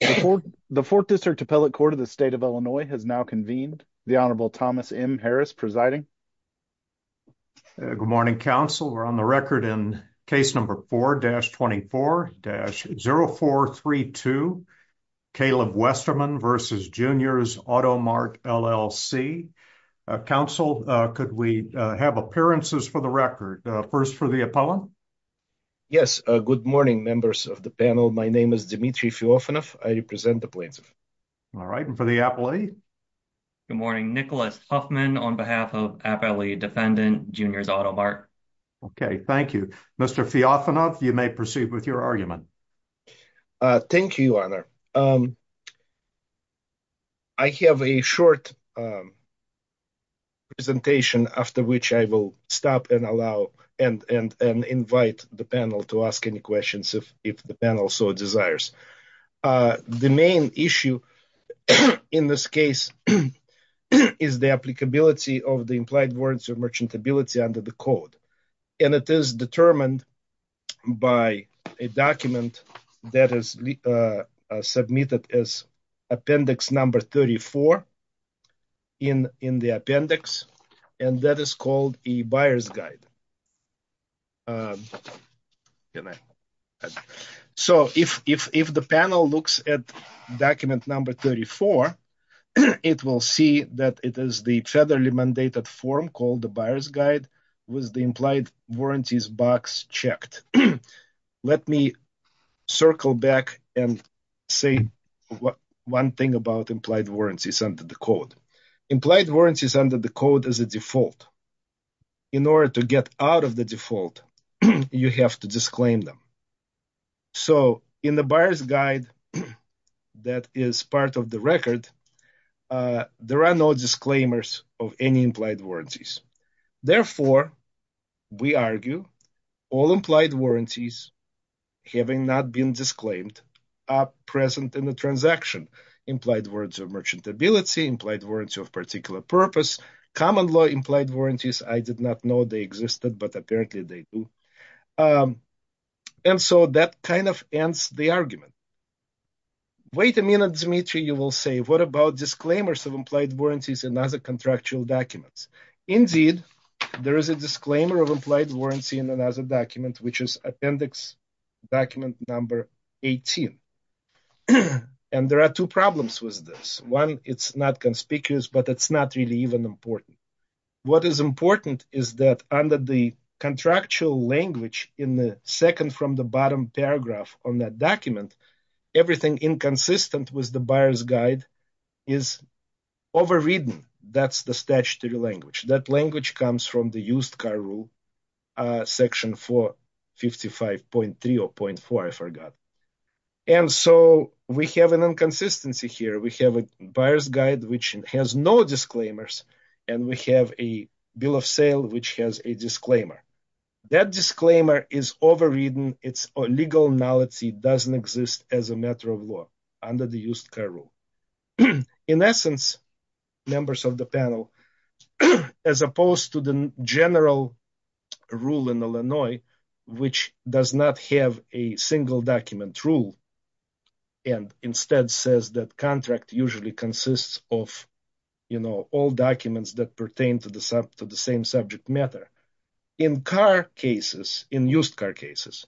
The 4th District Appellate Court of the State of Illinois has now convened. The Honorable Thomas M. Harris presiding. Good morning, counsel. We're on the record in case number 4-24-0432, Caleb Westerman v. Junior's Auto Mart, LLC. Counsel, could we have appearances for the record? First for the appellant. Yes, good morning, members of the panel. My name is Dmitry Fyofanov. I represent the plaintiff. All right, and for the appellate? Good morning, Nicholas Huffman on behalf of Appellate Defendant, Junior's Auto Mart. Okay, thank you. Mr. Fyofanov, you may proceed with your argument. Thank you, Your Honor. I have a short presentation after which I will stop and invite the panel to ask any questions if the panel so desires. The main issue in this case is the applicability of the implied warrants of merchantability under the code. And it is determined by a document that is submitted as appendix number 34 in the appendix, and that is called a buyer's guide. So if the panel looks at document number 34, it will see that it is the federally mandated form called the buyer's guide with the implied warranties box checked. Let me circle back and say one thing about implied warranties under the code. Implied warranties under the code is a default. In order to get out of the default, you have to disclaim them. So in the buyer's guide that is part of the record, there are no disclaimers of any implied warranties. Therefore, we argue all implied warranties, having not been disclaimed, are present in the transaction. Implied warrants of merchantability, implied warrants of particular purpose, common law implied warranties, I did not know they existed, but apparently they do. And so that kind of ends the argument. Wait a minute, Dmitry, you will say, what about disclaimers of implied warranties in other contractual documents? Indeed, there is a disclaimer of implied warranty in another document, which is appendix document number 18. And there are two problems with this. One, it's not conspicuous, but it's not really even important. What is important is that under the contractual language in the second from the bottom paragraph on that document, everything inconsistent with the buyer's guide is overridden. That's the statutory language. That language comes from the used car rule, section 455.3 or .4, I forgot. And so we have an inconsistency here. We have a buyer's guide, which has no disclaimers, and we have a bill of sale, which has a disclaimer. That disclaimer is overridden. Its legal nullity doesn't exist as a matter of law under the used car rule. In essence, members of the panel, as opposed to the general rule in Illinois, which does not have a single document rule and instead says that contract usually consists of, you know, all documents that pertain to the same subject matter. In car cases, in used car cases,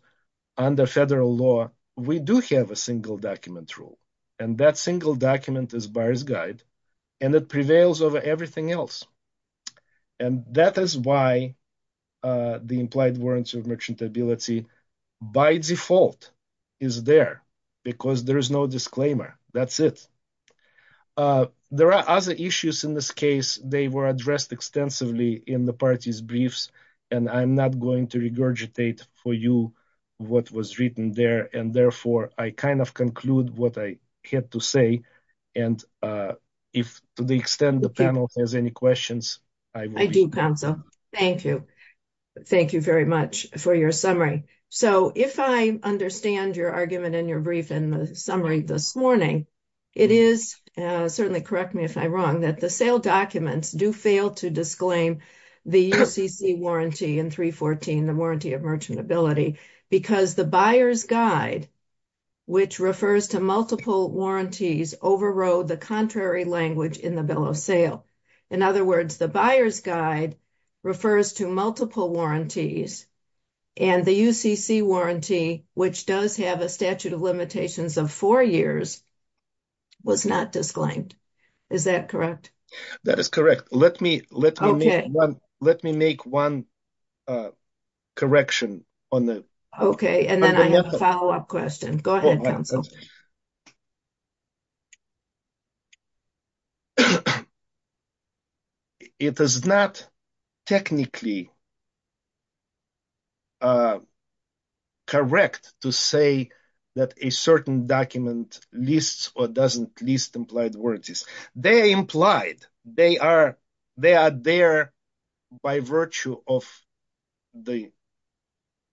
under federal law, we do have a single document rule, and that single document is buyer's guide, and it prevails over everything else. And that is why the implied warrants of merchantability, by default, is there, because there is no disclaimer. That's it. There are other issues in this case. They were addressed extensively in the party's briefs, and I'm not going to regurgitate for you what was written there. And therefore, I kind of conclude what I had to say. And if, to the extent the panel has any questions. I do counsel. Thank you. Thank you very much for your summary. So, if I understand your argument in your brief in the summary this morning. It is certainly correct me if I'm wrong that the sale documents do fail to disclaim the warranty in 314, the warranty of merchantability, because the buyer's guide. Which refers to multiple warranties overrode the contrary language in the bill of sale. In other words, the buyer's guide refers to multiple warranties. And the UCC warranty, which does have a statute of limitations of 4 years. Was not disclaimed. Is that correct? That is correct. Let me let me let me make 1. Correction on the. Okay. And then I have a follow up question. Go ahead. It is not technically. Correct to say that a certain document lists or doesn't list implied warranties. They implied they are they are there by virtue of the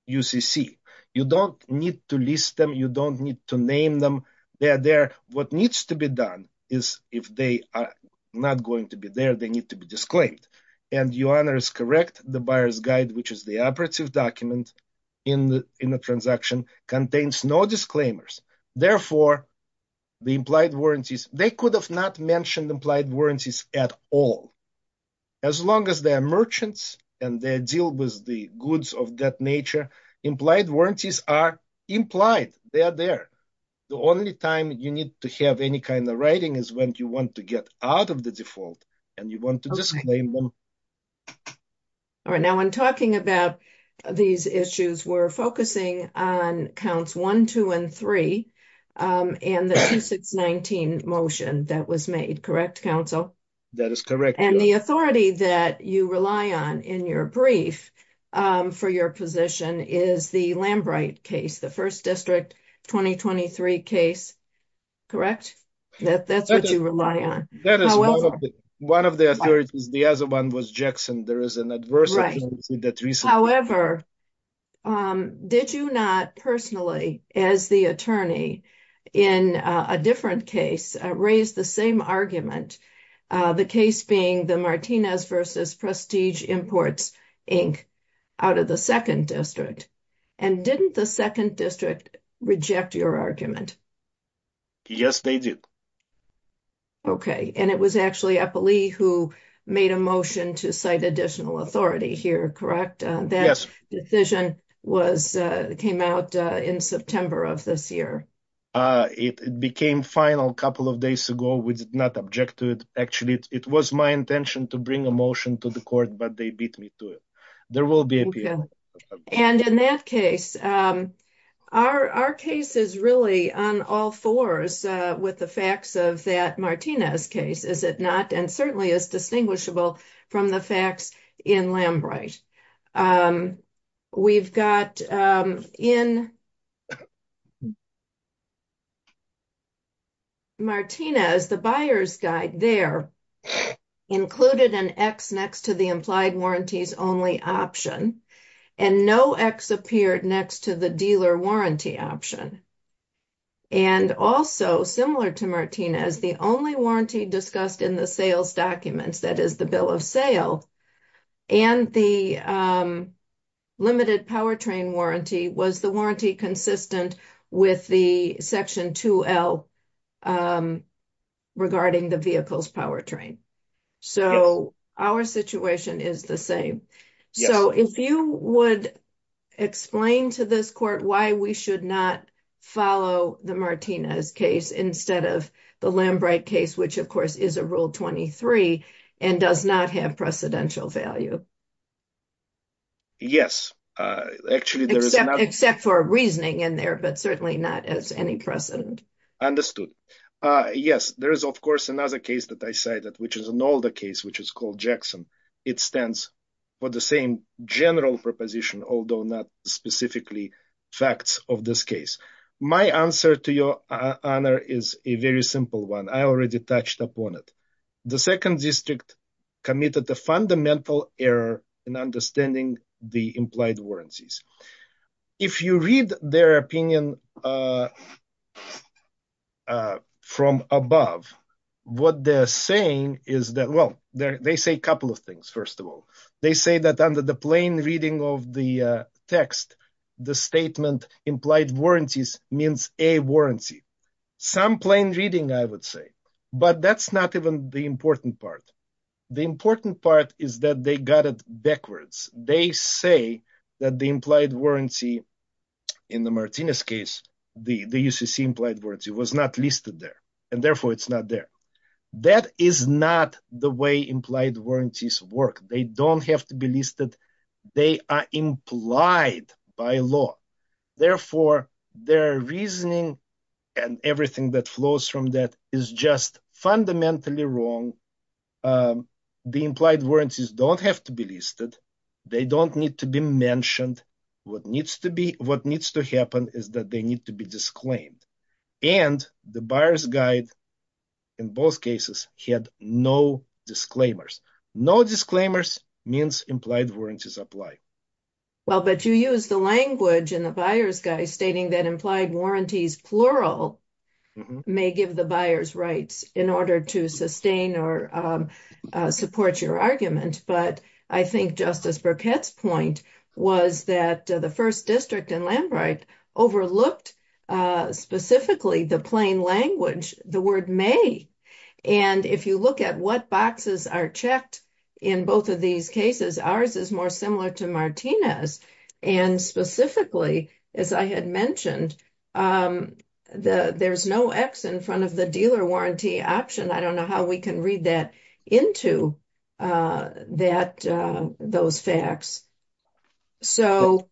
UCC. You don't need to list them. You don't need to name them. They are there. What needs to be done is if they are not going to be there, they need to be disclaimed. And your honor is correct. The buyer's guide, which is the operative document in the in the transaction contains no disclaimers. Therefore, the implied warranties, they could have not mentioned implied warranties at all. As long as they are merchants and they deal with the goods of that nature, implied warranties are implied. They are there. The only time you need to have any kind of writing is when you want to get out of the default and you want to disclaim them. All right. Now, when talking about these issues, we're focusing on counts 1, 2 and 3 and the 619 motion that was made. Correct. Counsel, that is correct. And the authority that you rely on in your brief for your position is the Lamb right case. The first district 2023 case. Correct. That's what you rely on. That is one of the other ones. The other one was Jackson. There is an adverse. However, did you not personally, as the attorney in a different case, raise the same argument, the case being the Martinez versus Prestige Imports Inc. Out of the second district. And didn't the second district reject your argument? Yes, they did. OK. And it was actually a police who made a motion to cite additional authority here. Correct. That decision was came out in September of this year. It became final a couple of days ago. We did not object to it. Actually, it was my intention to bring a motion to the court, but they beat me to it. There will be. And in that case, our case is really on all fours with the facts of that Martinez case, is it not? And certainly is distinguishable from the facts in Lamb, right? We've got in. Martinez, the buyer's guide there included an X next to the implied warranties only option and no X appeared next to the dealer warranty option. And also similar to Martinez, the only warranty discussed in the sales documents, that is the bill of sale and the. Limited power train warranty was the warranty consistent with the section 2. L. Regarding the vehicles power train, so our situation is the same. So if you would. Explain to this court why we should not follow the Martinez case instead of the Lamb right case, which, of course, is a rule 23 and does not have precedential value. Yes, actually, there is, except for reasoning in there, but certainly not as any precedent understood. Yes, there is, of course, another case that I cited, which is an older case, which is called Jackson. It stands for the same general proposition, although not specifically facts of this case. My answer to your honor is a very simple one. I already touched upon it. The second district committed the fundamental error in understanding the implied warranties. If you read their opinion from above, what they're saying is that, well, they say a couple of things. First of all, they say that under the plain reading of the text, the statement implied warranties means a warranty. Some plain reading, I would say, but that's not even the important part. The important part is that they got it backwards. They say that the implied warranty in the Martinez case, the UCC implied warranty was not listed there, and therefore it's not there. That is not the way implied warranties work. They don't have to be listed. They are implied by law. Therefore, their reasoning and everything that flows from that is just fundamentally wrong. The implied warranties don't have to be listed. They don't need to be mentioned. What needs to happen is that they need to be disclaimed. And the buyer's guide in both cases had no disclaimers. No disclaimers means implied warranties apply. Well, but you use the language in the buyer's guide stating that implied warranties plural may give the buyer's rights in order to sustain or support your argument. But I think Justice Burkett's point was that the first district in Lambright overlooked specifically the plain language, the word may. And if you look at what boxes are checked in both of these cases, ours is more similar to Martinez. And specifically, as I had mentioned, there's no X in front of the dealer warranty option. I don't know how we can read that into those facts. So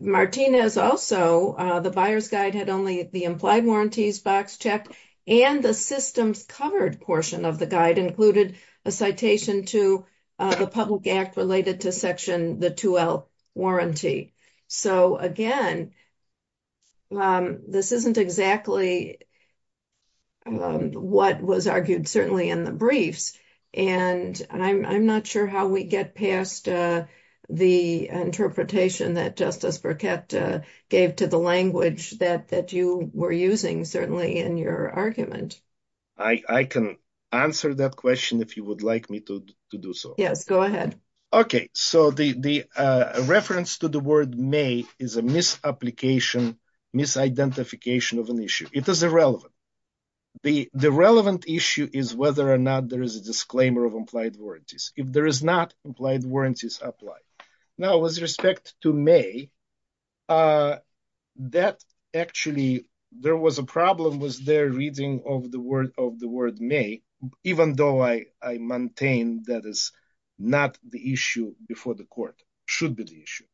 Martinez also the buyer's guide had only the implied warranties box checked and the systems covered portion of the guide included a citation to the public act related to section the 2L warranty. So, again, this isn't exactly what was argued, certainly in the briefs. And I'm not sure how we get past the interpretation that Justice Burkett gave to the language that you were using, certainly in your argument. I can answer that question if you would like me to do so. Yes, go ahead. Okay, so the reference to the word may is a misapplication, misidentification of an issue. It is irrelevant. The relevant issue is whether or not there is a disclaimer of implied warranties. If there is not, implied warranties apply. Now, with respect to may, that actually there was a problem with their reading of the word may, even though I maintain that is not the issue before the court, should be the issue.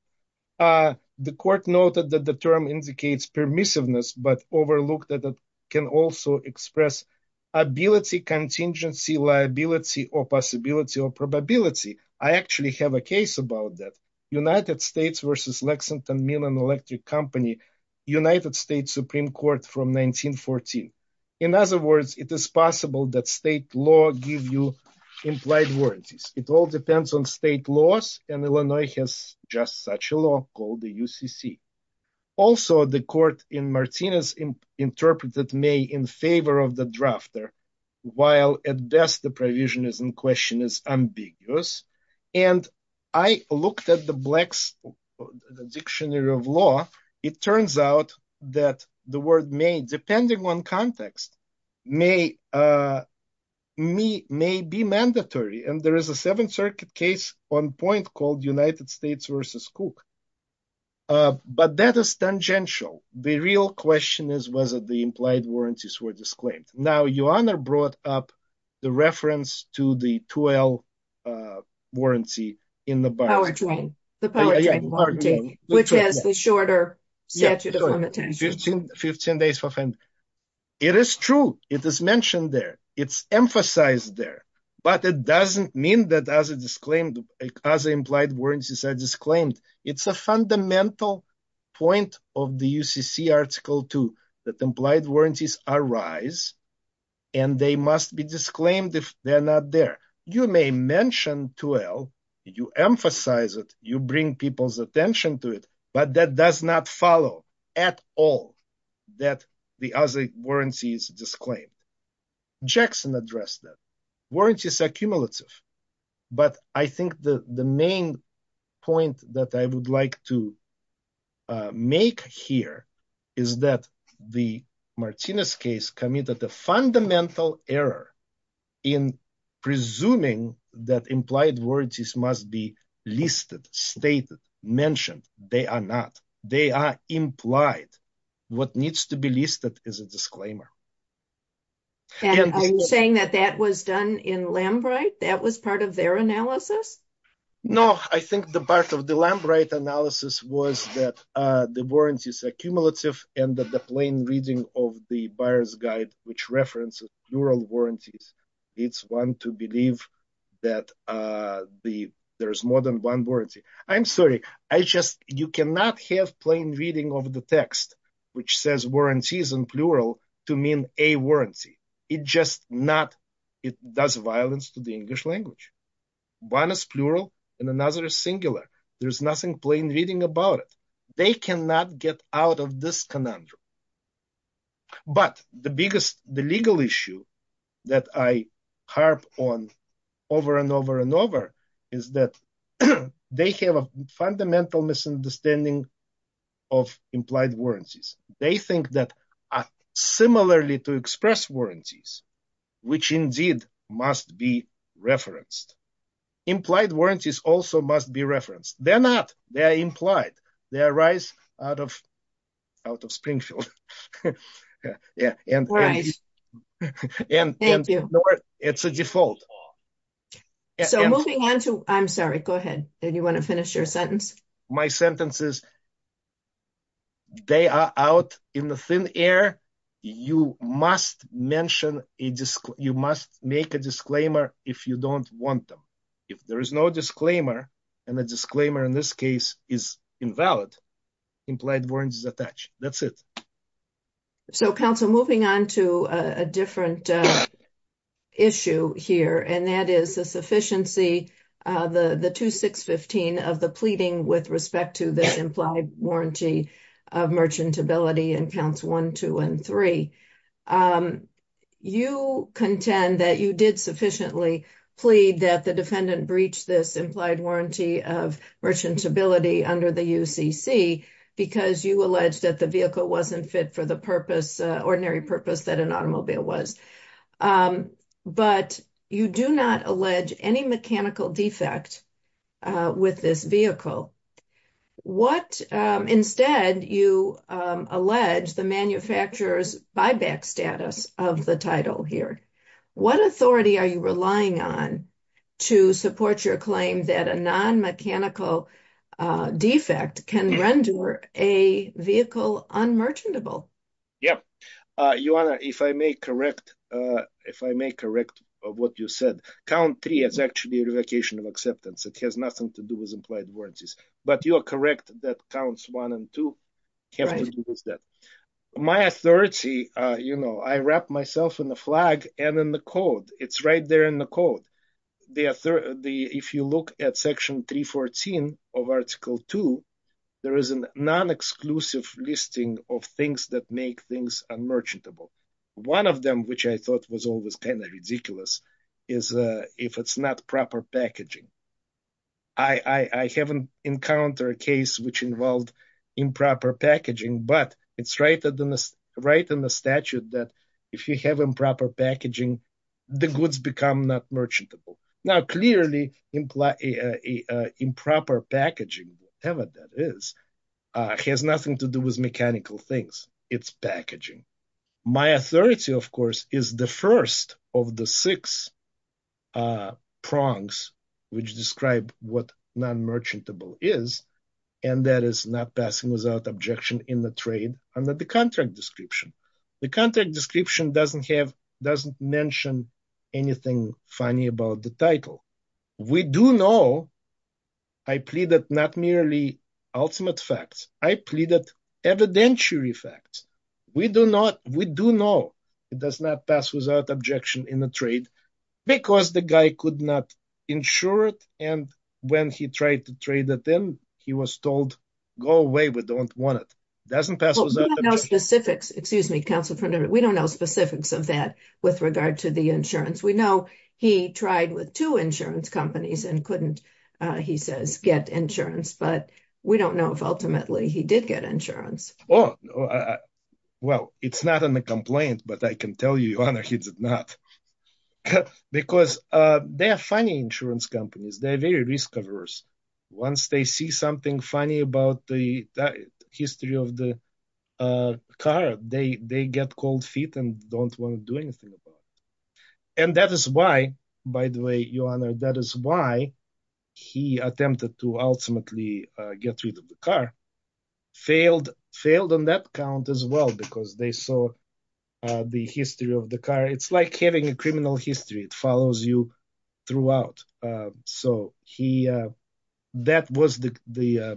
The court noted that the term indicates permissiveness, but overlooked that it can also express ability, contingency, liability, or possibility or probability. I actually have a case about that. United States versus Lexington Mill and Electric Company, United States Supreme Court from 1914. In other words, it is possible that state law give you implied warranties. It all depends on state laws, and Illinois has just such a law called the UCC. Also, the court in Martinez interpreted may in favor of the drafter, while at best the provision is in question is ambiguous. And I looked at the dictionary of law. It turns out that the word may, depending on context, may be mandatory. And there is a Seventh Circuit case on point called United States versus Cook. But that is tangential. The real question is whether the implied warranties were disclaimed. Now, your honor brought up the reference to the 2L warranty in the power train, which has the shorter statute of limitations. 15 days for it is true. It is mentioned there. It's emphasized there. But it doesn't mean that as a disclaimed, as implied warranties are disclaimed. It's a fundamental point of the UCC article, too, that implied warranties arise and they must be disclaimed if they're not there. You may mention 2L. You emphasize it. You bring people's attention to it. But that does not follow at all that the other warranties disclaimed. Jackson addressed that. Warranties are cumulative. But I think the main point that I would like to make here is that the Martinez case committed the fundamental error in presuming that implied warranties must be listed, stated, mentioned. They are not. They are implied. What needs to be listed is a disclaimer. Are you saying that that was done in Lambright? That was part of their analysis? No, I think the part of the Lambright analysis was that the warranties are cumulative and that the plain reading of the buyer's guide, which references plural warranties, leads one to believe that there is more than one warranty. I'm sorry. You cannot have plain reading of the text, which says warranties in plural, to mean a warranty. It just does violence to the English language. One is plural and another is singular. There's nothing plain reading about it. They cannot get out of this conundrum. But the biggest the legal issue that I harp on over and over and over is that they have a fundamental misunderstanding of implied warranties. They think that similarly to express warranties, which indeed must be referenced, implied warranties also must be referenced. They're not. They are implied. They arise out of out of Springfield. And it's a default. So moving on to I'm sorry. Go ahead. And you want to finish your sentence. My sentences. They are out in the thin air. You must mention it. You must make a disclaimer if you don't want them. If there is no disclaimer, and the disclaimer in this case is invalid, implied warrants is attached. That's it. So Council moving on to a different issue here, and that is the sufficiency. The 2615 of the pleading with respect to this implied warranty of merchantability and counts one, two and three. You contend that you did sufficiently plead that the defendant breached this implied warranty of merchantability under the UCC because you alleged that the vehicle wasn't fit for the purpose, ordinary purpose that an automobile was. But you do not allege any mechanical defect with this vehicle. What? Instead, you allege the manufacturer's buyback status of the title here. What authority are you relying on to support your claim that a non mechanical defect can render a vehicle on merchantable? Yep. If I may correct. If I may correct what you said, count three is actually a revocation of acceptance. It has nothing to do with implied warranties. But you are correct. That counts one and two. My authority. You know, I wrap myself in the flag and in the code. It's right there in the code. If you look at Section 314 of Article two, there is a non exclusive listing of things that make things unmerchantable. One of them, which I thought was always kind of ridiculous, is if it's not proper packaging. I haven't encountered a case which involved improper packaging, but it's right in the statute that if you have improper packaging, the goods become not merchantable. Now, clearly, improper packaging, whatever that is, has nothing to do with mechanical things. It's packaging. My authority, of course, is the first of the six prongs which describe what non merchantable is. And that is not passing without objection in the trade under the contract description. The contract description doesn't have doesn't mention anything funny about the title. We do know. I plead that not merely ultimate facts. I plead that evidentiary facts. We do not. We do know it does not pass without objection in the trade because the guy could not insure it. And when he tried to trade it in, he was told, go away. We don't want it. Doesn't pass. No specifics. Excuse me, counsel. We don't know specifics of that with regard to the insurance. We know he tried with two insurance companies and couldn't, he says, get insurance. But we don't know if ultimately he did get insurance. Oh, well, it's not in the complaint. But I can tell you, Your Honor, he did not. Because they are funny insurance companies. They're very risk averse. Once they see something funny about the history of the car, they get cold feet and don't want to do anything about it. And that is why, by the way, Your Honor, that is why he attempted to ultimately get rid of the car. Failed on that count as well, because they saw the history of the car. It's like having a criminal history. It follows you throughout. So that was the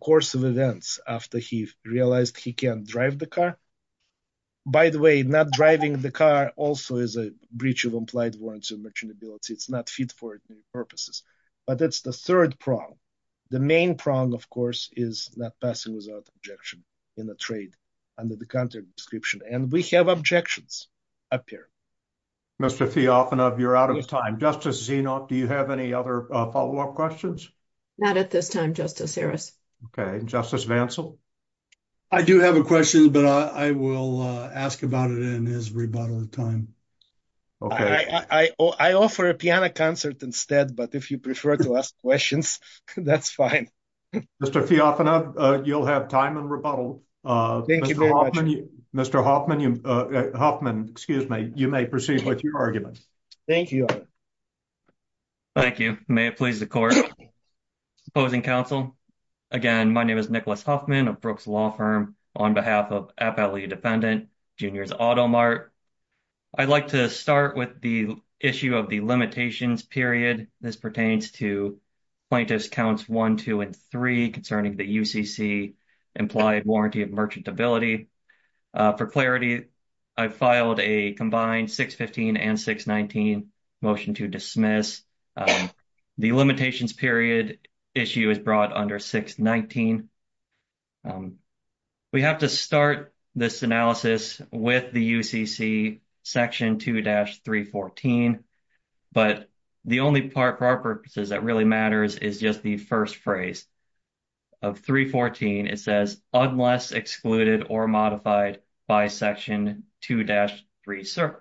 course of events after he realized he can't drive the car. By the way, not driving the car also is a breach of implied warrants of merchantability. It's not fit for purposes. But that's the third prong. The main prong, of course, is not passing without objection in a trade under the counter description. And we have objections up here. Mr. Fyodorov, you're out of time. Justice Zinov, do you have any other follow-up questions? Not at this time, Justice Harris. Okay. Justice Vansell? I do have a question, but I will ask about it in his rebuttal time. I offer a piano concert instead, but if you prefer to ask questions, that's fine. Mr. Fyodorov, you'll have time in rebuttal. Thank you very much. Mr. Hoffman, you may proceed with your argument. Thank you, Your Honor. Thank you. May it please the court. Opposing counsel? Again, my name is Nicholas Hoffman of Brooks Law Firm on behalf of FLE defendant, Juniors Auto Mart. I'd like to start with the issue of the limitations period. This pertains to plaintiffs' counts 1, 2, and 3 concerning the UCC implied warranty of merchantability. For clarity, I filed a combined 615 and 619 motion to dismiss. The limitations period issue is brought under 619. We have to start this analysis with the UCC Section 2-314, but the only part for our purposes that really matters is just the first phrase. Of 314, it says, unless excluded or modified by Section 2-316.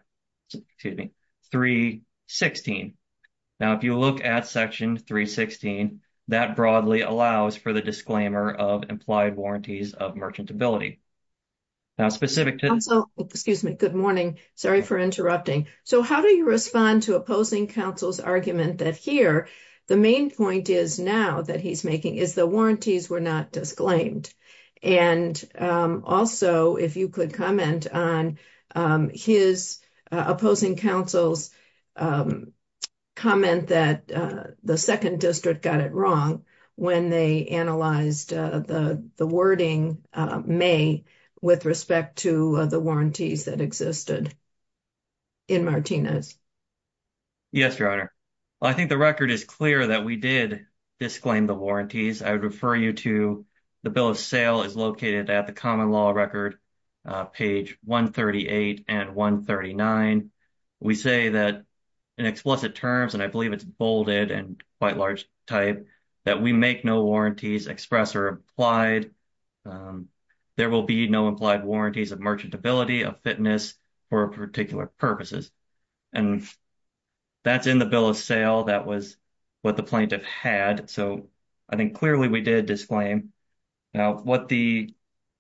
Now, if you look at Section 316, that broadly allows for the disclaimer of implied warranties of merchantability. Now, specific to this- Counsel, excuse me. Good morning. Sorry for interrupting. So how do you respond to opposing counsel's argument that here the main point is now that he's making is the warranties were not disclaimed? And also, if you could comment on his opposing counsel's comment that the second district got it wrong when they analyzed the wording may with respect to the warranties that existed. In Martinez. Yes, your honor. I think the record is clear that we did disclaim the warranties. I would refer you to the bill of sale is located at the common law record page 138 and 139. We say that in explicit terms, and I believe it's bolded and quite large type that we make no warranties express or applied. There will be no implied warranties of merchantability of fitness for particular purposes. And that's in the bill of sale. That was what the plaintiff had. So I think clearly we did disclaim. Now, what the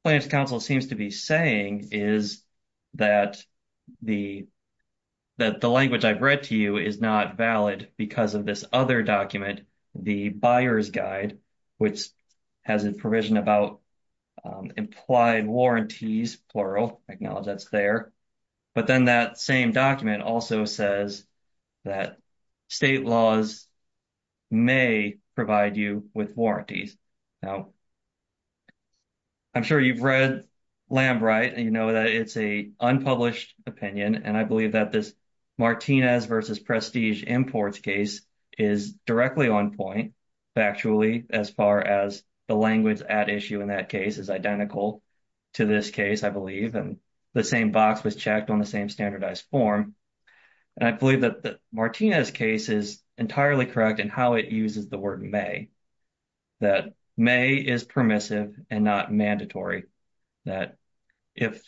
council seems to be saying is that the, that the language I've read to you is not valid because of this other document, the buyer's guide, which has a provision about implied warranties, plural acknowledge that's there. But then that same document also says that state laws may provide you with warranties. Now, I'm sure you've read lamb, right? And, you know, that it's a unpublished opinion. And I believe that this Martinez versus prestige imports case is directly on point. Factually, as far as the language at issue in that case is identical to this case, I believe, and the same box was checked on the same standardized form. I believe that the Martinez case is entirely correct and how it uses the word may that may is permissive and not mandatory. That if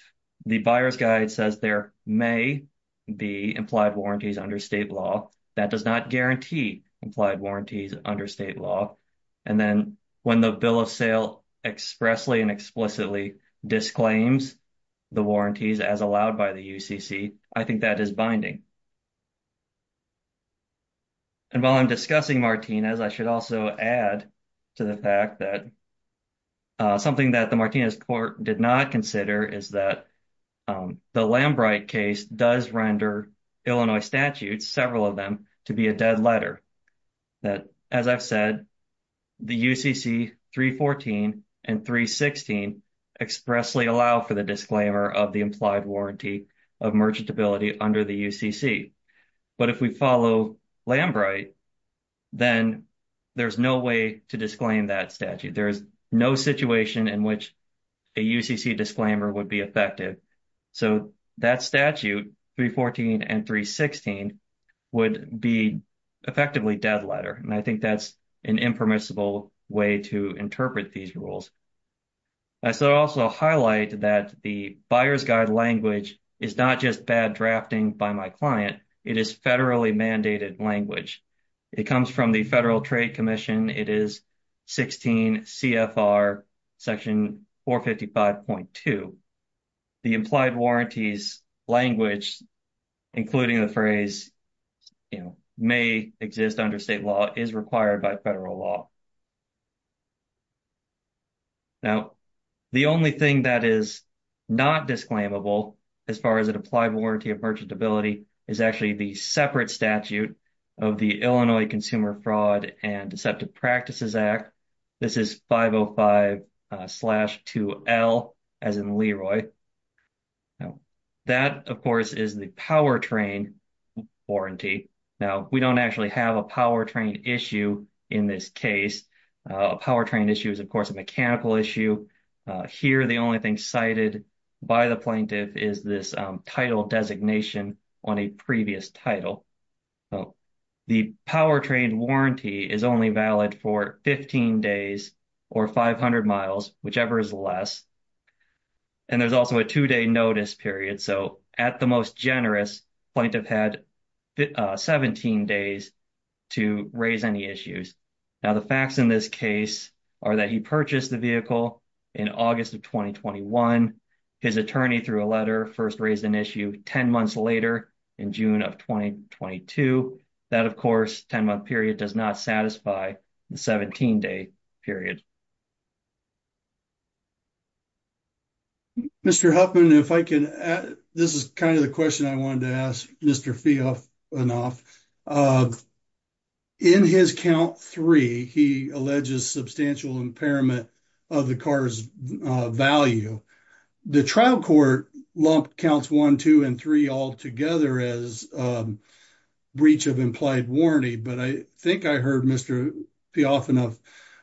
the buyer's guide says there may be implied warranties under state law, that does not guarantee implied warranties under state law. And then when the bill of sale expressly and explicitly disclaims the warranties as allowed by the UCC, I think that is binding. And while I'm discussing Martinez, I should also add to the fact that. Something that the Martinez court did not consider is that the Lambert case does render Illinois statutes, several of them to be a dead letter. That, as I've said, the UCC 314 and 316 expressly allow for the disclaimer of the implied warranty of merchantability under the UCC. But if we follow Lambert, then there's no way to disclaim that statute. There is no situation in which a UCC disclaimer would be effective. So that statute 314 and 316 would be effectively dead letter. And I think that's an impermissible way to interpret these rules. I should also highlight that the buyer's guide language is not just bad drafting by my client. It is federally mandated language. It comes from the Federal Trade Commission. It is 16 CFR section 455.2. The implied warranties language, including the phrase, you know, may exist under state law, is required by federal law. Now, the only thing that is not disclaimable as far as an implied warranty of merchantability is actually the separate statute of the Illinois Consumer Fraud and Deceptive Practices Act. This is 505 slash 2L as in Leroy. Now, that, of course, is the powertrain warranty. Now, we don't actually have a powertrain issue in this case. A powertrain issue is, of course, a mechanical issue. Here, the only thing cited by the plaintiff is this title designation on a previous title. The powertrain warranty is only valid for 15 days or 500 miles, whichever is less. And there's also a two-day notice period. So, at the most generous, plaintiff had 17 days to raise any issues. Now, the facts in this case are that he purchased the vehicle in August of 2021. His attorney, through a letter, first raised an issue 10 months later in June of 2022. That, of course, 10-month period does not satisfy the 17-day period. Mr. Huffman, if I can add, this is kind of the question I wanted to ask Mr. Feofanoff. In his count three, he alleges substantial impairment of the car's value. The trial court lumped counts one, two, and three all together as breach of implied warranty. But I think I heard Mr. Feofanoff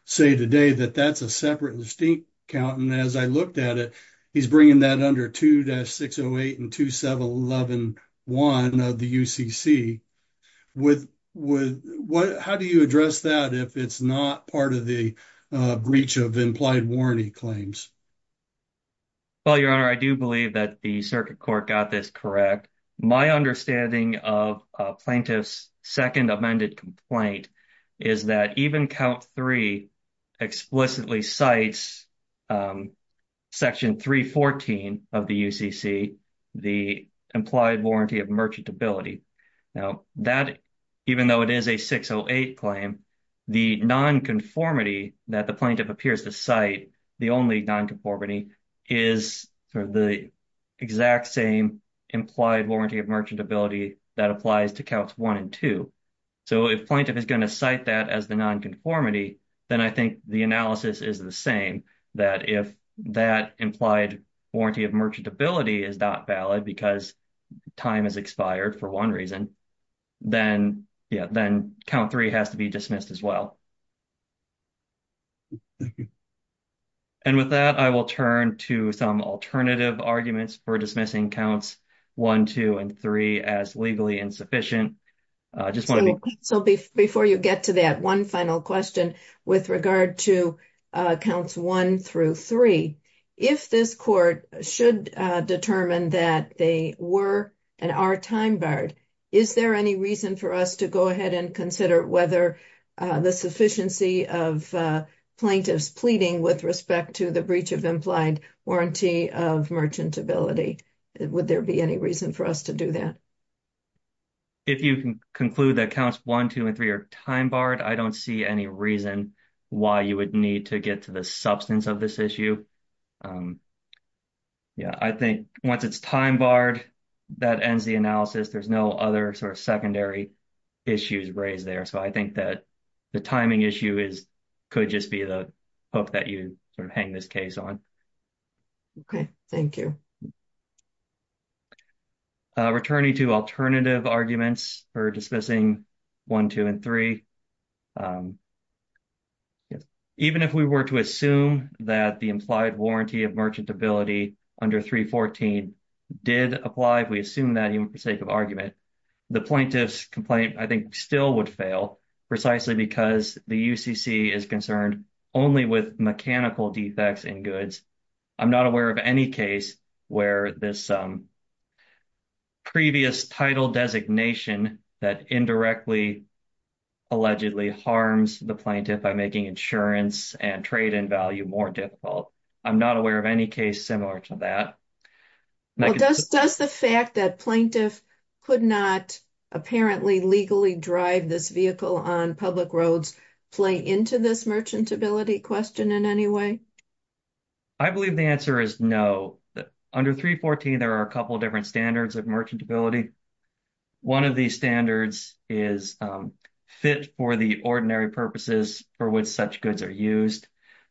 say today that that's a separate distinct count. And as I looked at it, he's bringing that under 2-608 and 27111 of the UCC. How do you address that if it's not part of the breach of implied warranty claims? Well, Your Honor, I do believe that the circuit court got this correct. My understanding of a plaintiff's second amended complaint is that even count three explicitly cites section 314 of the UCC, the implied warranty of merchantability. Now that, even though it is a 608 claim, the nonconformity that the plaintiff appears to cite, the only nonconformity, is the exact same implied warranty of merchantability that applies to counts one and two. So if plaintiff is going to cite that as the nonconformity, then I think the analysis is the same, that if that implied warranty of merchantability is not valid because time has expired for one reason, then count three has to be dismissed as well. And with that, I will turn to some alternative arguments for dismissing counts one, two, and three as legally insufficient. So before you get to that, one final question with regard to counts one through three. If this court should determine that they were and are time barred, is there any reason for us to go ahead and consider whether the sufficiency of plaintiffs pleading with respect to the breach of implied warranty of merchantability, would there be any reason for us to do that? If you can conclude that counts one, two, and three are time barred, I don't see any reason why you would need to get to the substance of this issue. Yeah, I think once it's time barred, that ends the analysis. There's no other sort of secondary issues raised there. So I think that the timing issue could just be the hook that you hang this case on. OK, thank you. Returning to alternative arguments for dismissing one, two, and three. Even if we were to assume that the implied warranty of merchantability under 314 did apply, we assume that even for sake of argument, the plaintiff's complaint, I think, still would fail precisely because the UCC is concerned only with mechanical defects in goods. I'm not aware of any case where this previous title designation that indirectly, allegedly harms the plaintiff by making insurance and trade in value more difficult. I'm not aware of any case similar to that. Does the fact that plaintiff could not apparently legally drive this vehicle on public roads play into this merchantability question in any way? I believe the answer is no. Under 314, there are a couple of different standards of merchantability. One of these standards is fit for the ordinary purposes for which such goods are used.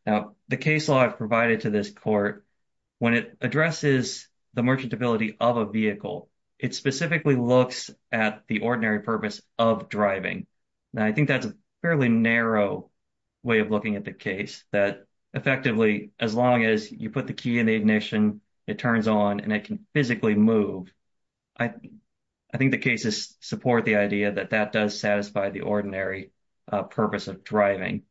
Now, the case law I've provided to this court, when it addresses the merchantability of a vehicle, it specifically looks at the ordinary purpose of driving. Now, I think that's a fairly narrow way of looking at the case, that effectively, as long as you put the key in the ignition, it turns on, and it can physically move, I think the cases support the idea that that does satisfy the ordinary purpose of driving.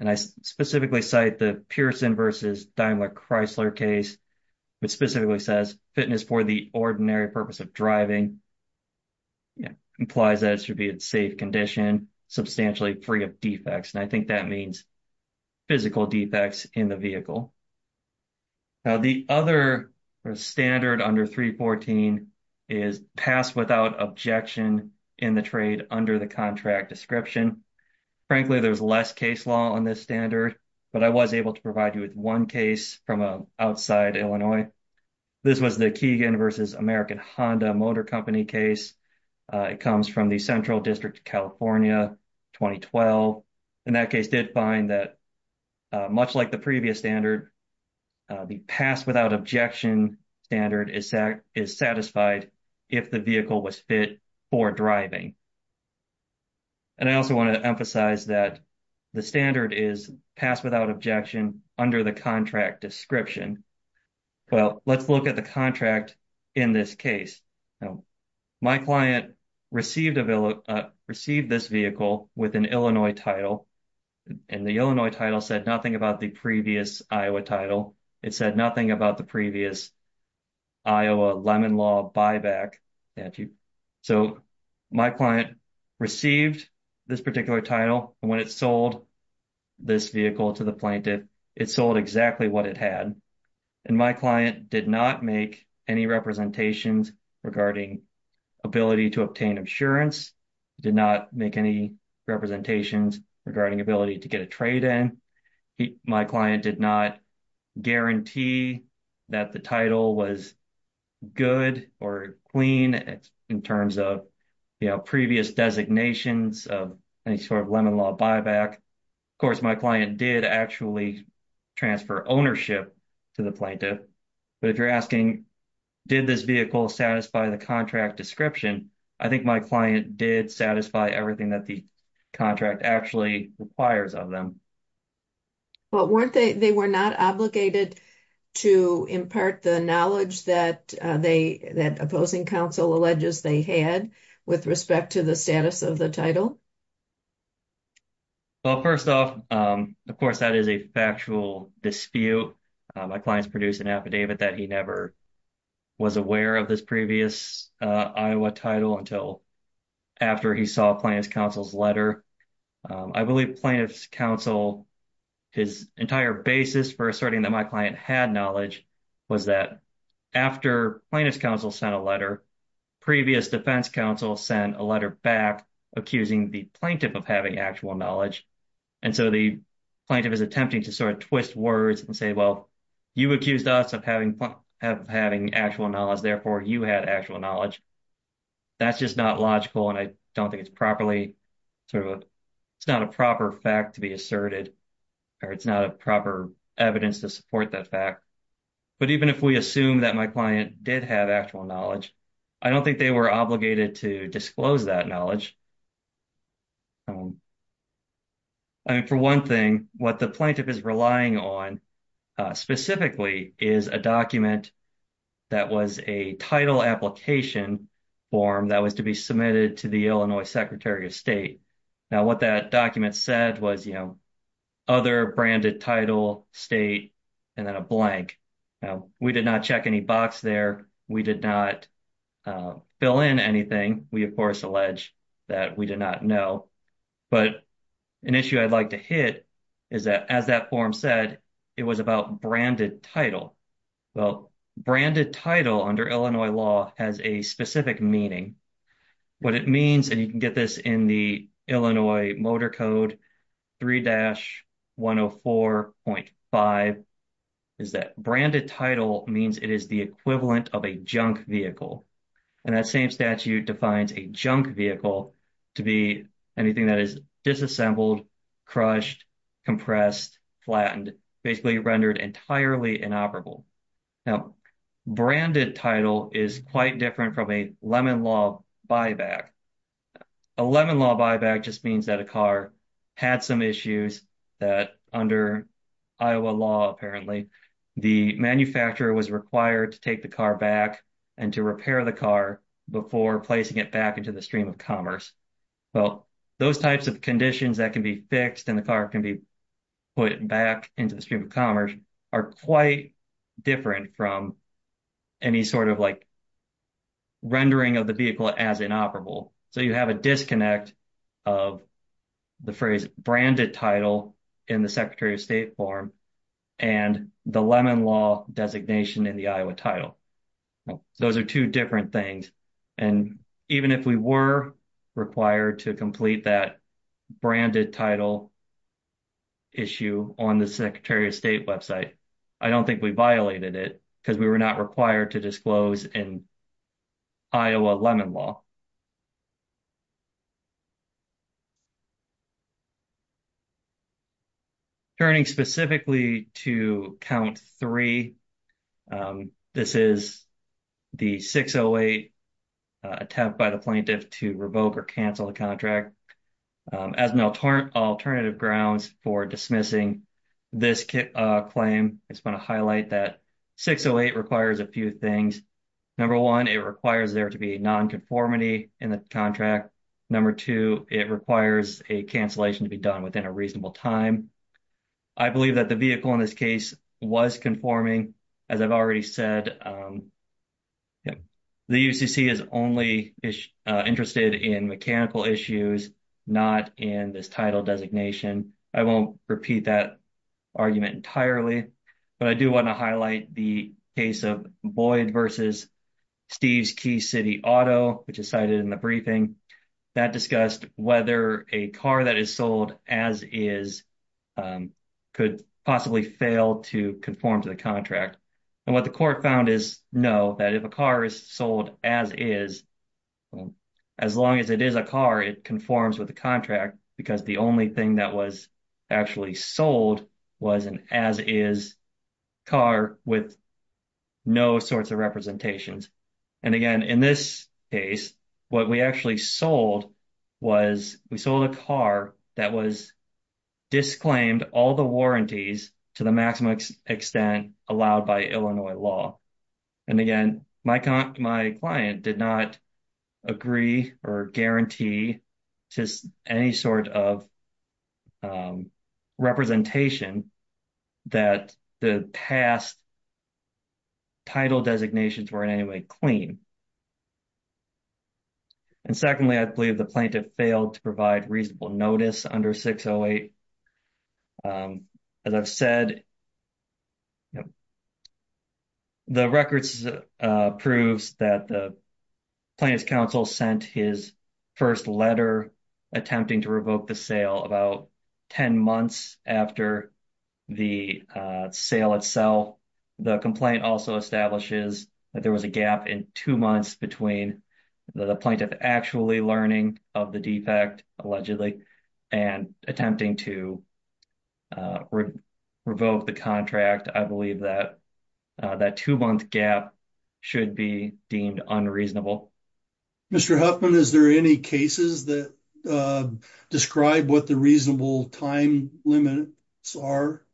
And I specifically cite the Pearson versus Daimler-Chrysler case, which specifically says fitness for the ordinary purpose of driving implies that it should be in safe condition, substantially free of defects. And I think that means physical defects in the vehicle. Now, the other standard under 314 is pass without objection in the trade under the contract description. Frankly, there's less case law on this standard, but I was able to provide you with one case from outside Illinois. This was the Keegan versus American Honda Motor Company case. It comes from the Central District of California, 2012. And that case did find that, much like the previous standard, the pass without objection standard is satisfied if the vehicle was fit for driving. And I also want to emphasize that the standard is pass without objection under the contract description. Well, let's look at the contract in this case. Now, my client received this vehicle with an Illinois title, and the Illinois title said nothing about the previous Iowa title. It said nothing about the previous Iowa Lemon Law buyback. So my client received this particular title. And when it sold this vehicle to the plaintiff, it sold exactly what it had. And my client did not make any representations regarding ability to obtain insurance, did not make any representations regarding ability to get a trade in. My client did not guarantee that the title was good or clean in terms of, you know, previous designations of any sort of Lemon Law buyback. Of course, my client did actually transfer ownership to the plaintiff. But if you're asking, did this vehicle satisfy the contract description, I think my client did satisfy everything that the contract actually requires of them. But weren't they, they were not obligated to impart the knowledge that they, that opposing counsel alleges they had with respect to the status of the title? Well, first off, of course, that is a factual dispute. My client's produced an affidavit that he never was aware of this previous Iowa title until after he saw plaintiff's counsel's letter. I believe plaintiff's counsel, his entire basis for asserting that my client had knowledge, was that after plaintiff's counsel sent a letter, previous defense counsel sent a letter back accusing the plaintiff of having actual knowledge. And so the plaintiff is attempting to sort of twist words and say, well, you accused us of having actual knowledge, therefore you had actual knowledge. That's just not logical, and I don't think it's properly sort of, it's not a proper fact to be asserted, or it's not a proper evidence to support that fact. But even if we assume that my client did have actual knowledge, I don't think they were obligated to disclose that knowledge. I mean, for one thing, what the plaintiff is relying on specifically is a document that was a title application form that was to be submitted to the Illinois Secretary of State. Now, what that document said was, you know, other branded title, state, and then a blank. We did not check any box there. We did not fill in anything. We, of course, allege that we did not know. But an issue I'd like to hit is that, as that form said, it was about branded title. Well, branded title under Illinois law has a specific meaning. What it means, and you can get this in the Illinois Motor Code 3-104.5, is that branded title means it is the equivalent of a junk vehicle. And that same statute defines a junk vehicle to be anything that is disassembled, crushed, compressed, flattened, basically rendered entirely inoperable. Now, branded title is quite different from a Lemon Law buyback. A Lemon Law buyback just means that a car had some issues that under Iowa law, apparently, the manufacturer was required to take the car back and to repair the car before placing it back into the stream of commerce. Well, those types of conditions that can be fixed and the car can be put back into the stream of commerce are quite different from any sort of, like, rendering of the vehicle as inoperable. So you have a disconnect of the phrase branded title in the Secretary of State form and the Lemon Law designation in the Iowa title. Those are two different things. And even if we were required to complete that branded title issue on the Secretary of State website, I don't think we violated it because we were not required to disclose in Iowa Lemon Law. Turning specifically to count three, this is the 608 attempt by the plaintiff to revoke or cancel the contract. As an alternative grounds for dismissing this claim, I just want to highlight that 608 requires a few things. Number one, it requires there to be nonconformity in the contract. Number two, it requires a cancellation to be done within a reasonable time. I believe that the vehicle in this case was conforming. As I've already said, the UCC is only interested in mechanical issues, not in this title designation. I won't repeat that argument entirely, but I do want to highlight the case of Boyd versus Steve's Key City Auto, which is cited in the briefing. That discussed whether a car that is sold as is could possibly fail to conform to the contract. And what the court found is no, that if a car is sold as is, as long as it is a car, it conforms with the contract, because the only thing that was actually sold was an as is car with no sorts of representations. And again, in this case, what we actually sold was we sold a car that was disclaimed all the warranties to the maximum extent allowed by Illinois law. And again, my client did not agree or guarantee just any sort of representation that the past title designations were in any way clean. And secondly, I believe the plaintiff failed to provide reasonable notice under 608. As I've said, the records proves that the plaintiff's counsel sent his first letter attempting to revoke the sale about 10 months after the sale itself. The complaint also establishes that there was a gap in two months between the plaintiff actually learning of the defect, allegedly, and attempting to revoke the contract. I believe that that two-month gap should be deemed unreasonable. Mr. Huffman, is there any cases that describe what the reasonable time limits are?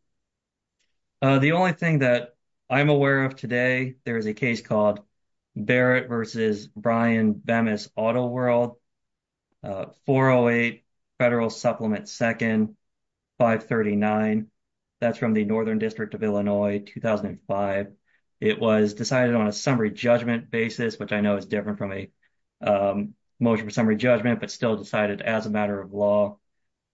The only thing that I'm aware of today, there is a case called Barrett v. Bryan Bemis Auto World, 408 Federal Supplement 2nd, 539. That's from the Northern District of Illinois, 2005. It was decided on a summary judgment basis, which I know is different from a motion for summary judgment, but still decided as a matter of law.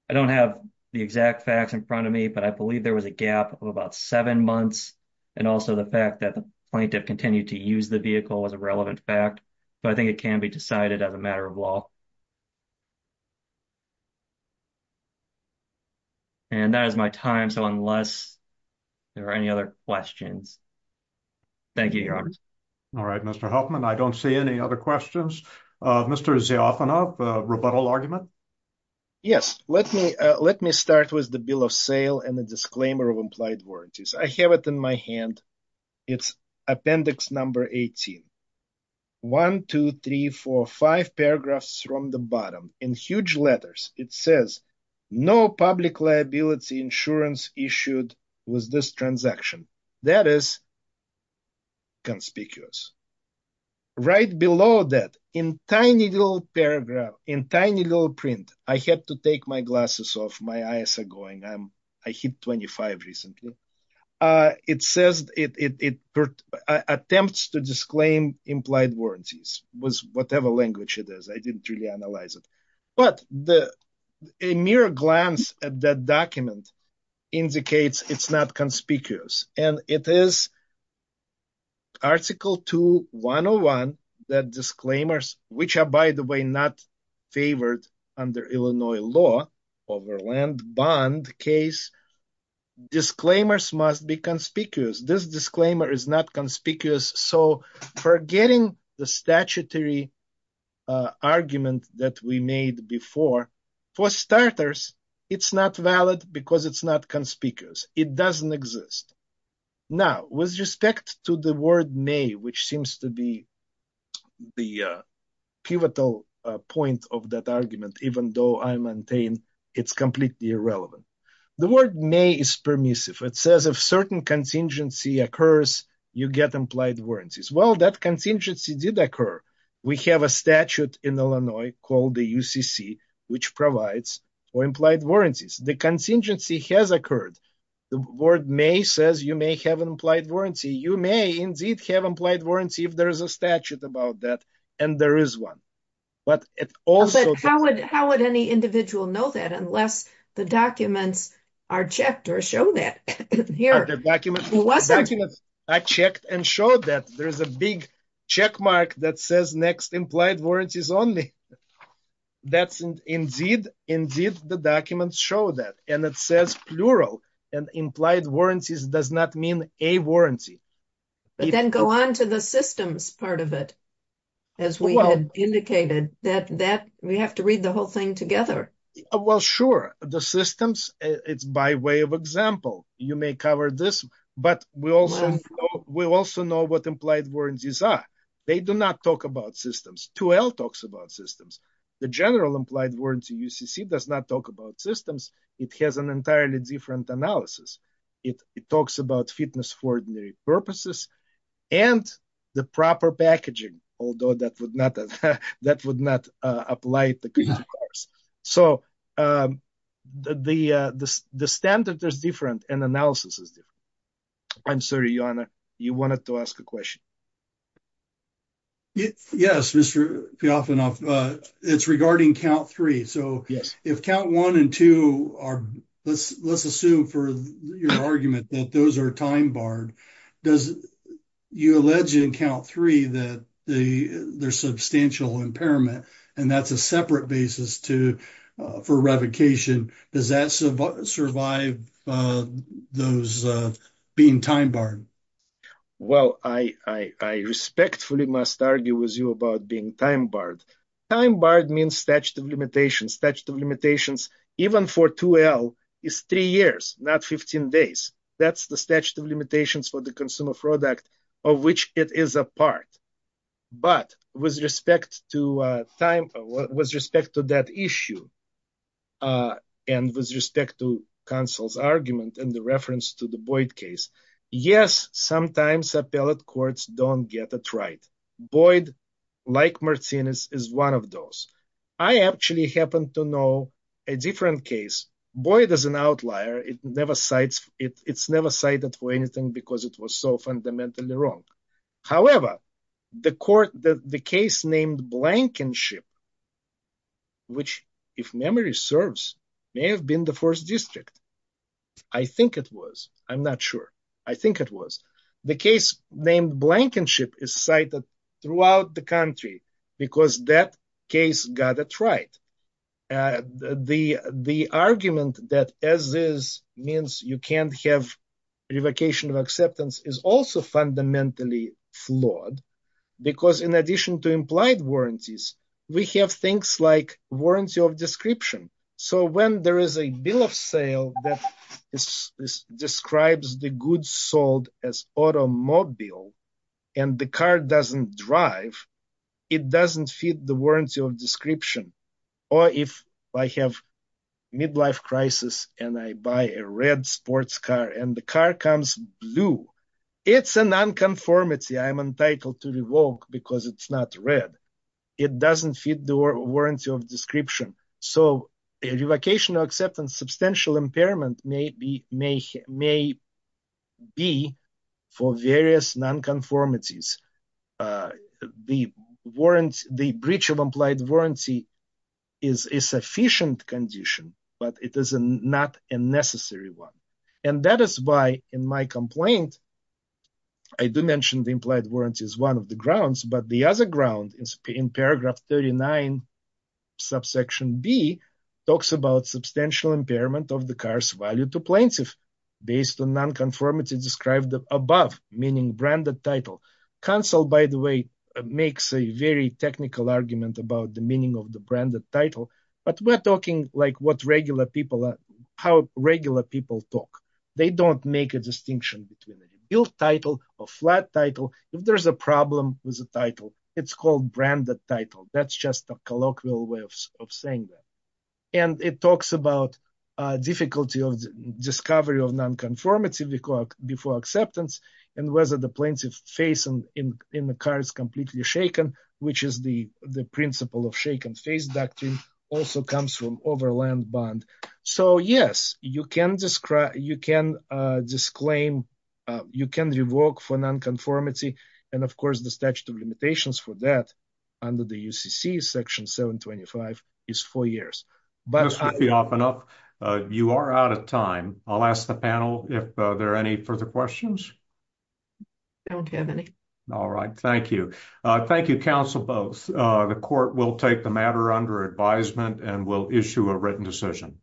I don't have the exact facts in front of me, but I believe there was a gap of about seven months, and also the fact that the plaintiff continued to use the vehicle was a relevant fact. But I think it can be decided as a matter of law. And that is my time, so unless there are any other questions, thank you, Your Honor. All right, Mr. Huffman, I don't see any other questions. Mr. Ziafanov, rebuttal argument? Yes, let me start with the bill of sale and the disclaimer of implied warranties. I have it in my hand. It's appendix number 18. One, two, three, four, five paragraphs from the bottom. In huge letters, it says, no public liability insurance issued with this transaction. That is conspicuous. Right below that, in tiny little paragraph, in tiny little print, I had to take my glasses off. My eyes are going. I hit 25 recently. It says it attempts to disclaim implied warranties with whatever language it is. I didn't really analyze it. But a mere glance at that document indicates it's not conspicuous. And it is Article 2.101 that disclaimers, which are, by the way, not favored under Illinois law over land bond case, disclaimers must be conspicuous. This disclaimer is not conspicuous. So forgetting the statutory argument that we made before, for starters, it's not valid because it's not conspicuous. It doesn't exist. Now, with respect to the word may, which seems to be the pivotal point of that argument, even though I maintain it's completely irrelevant. The word may is permissive. It says if certain contingency occurs, you get implied warranties. Well, that contingency did occur. We have a statute in Illinois called the UCC, which provides for implied warranties. The contingency has occurred. The word may says you may have an implied warranty. You may indeed have implied warranty if there is a statute about that, and there is one. But it also – How would any individual know that unless the documents are checked or show that? The documents are checked and show that. There is a big checkmark that says next implied warranties only. Indeed, the documents show that, and it says plural. And implied warranties does not mean a warranty. But then go on to the systems part of it, as we indicated, that we have to read the whole thing together. Well, sure. The systems, it's by way of example. You may cover this, but we also know what implied warranties are. They do not talk about systems. 2L talks about systems. The general implied warranty UCC does not talk about systems. It has an entirely different analysis. It talks about fitness for ordinary purposes and the proper packaging, although that would not apply to contingency. So the standard is different, and analysis is different. I'm sorry, Johanna, you wanted to ask a question. Yes, Mr. Piafanov. It's regarding count three. So if count one and two are, let's assume for your argument that those are time barred. Does you allege in count three that there's substantial impairment, and that's a separate basis for revocation. Does that survive those being time barred? Well, I respectfully must argue with you about being time barred. Time barred means statute of limitations. Statute of limitations, even for 2L, is three years, not 15 days. That's the statute of limitations for the consumer product of which it is a part. But with respect to time, with respect to that issue, and with respect to counsel's argument and the reference to the Boyd case, yes, sometimes appellate courts don't get it right. Boyd, like Martinez, is one of those. I actually happen to know a different case. Boyd is an outlier. It's never cited for anything because it was so fundamentally wrong. However, the court, the case named Blankenship, which if memory serves, may have been the first district. I think it was. I'm not sure. I think it was. The case named Blankenship is cited throughout the country because that case got it right. The argument that as is means you can't have revocation of acceptance is also fundamentally flawed because in addition to implied warranties, we have things like warranty of description. So when there is a bill of sale that describes the goods sold as automobile and the car doesn't drive, it doesn't fit the warranty of description. Or if I have midlife crisis and I buy a red sports car and the car comes blue, it's a nonconformity. I'm entitled to revoke because it's not red. It doesn't fit the warranty of description. So a revocation of acceptance, substantial impairment may be for various nonconformities. The breach of implied warranty is a sufficient condition, but it is not a necessary one. And that is why in my complaint, I do mention the implied warranty is one of the grounds, but the other ground is in paragraph 39, subsection B, talks about substantial impairment of the car's value to plaintiff based on nonconformity described above, meaning branded title. Cancel, by the way, makes a very technical argument about the meaning of the branded title. But we're talking like what regular people are, how regular people talk. They don't make a distinction between a billed title or flat title. If there is a problem with the title, it's called branded title. That's just a colloquial way of saying that. And it talks about difficulty of discovery of nonconformity before acceptance and whether the plaintiff's face in the car is completely shaken, which is the principle of shaken face doctrine, also comes from overland bond. So, yes, you can disclaim, you can revoke for nonconformity. And, of course, the statute of limitations for that under the UCC section 725 is four years. This would be off and up. You are out of time. I'll ask the panel if there are any further questions. I don't have any. All right, thank you. Thank you, counsel, both. The court will take the matter under advisement and will issue a written decision.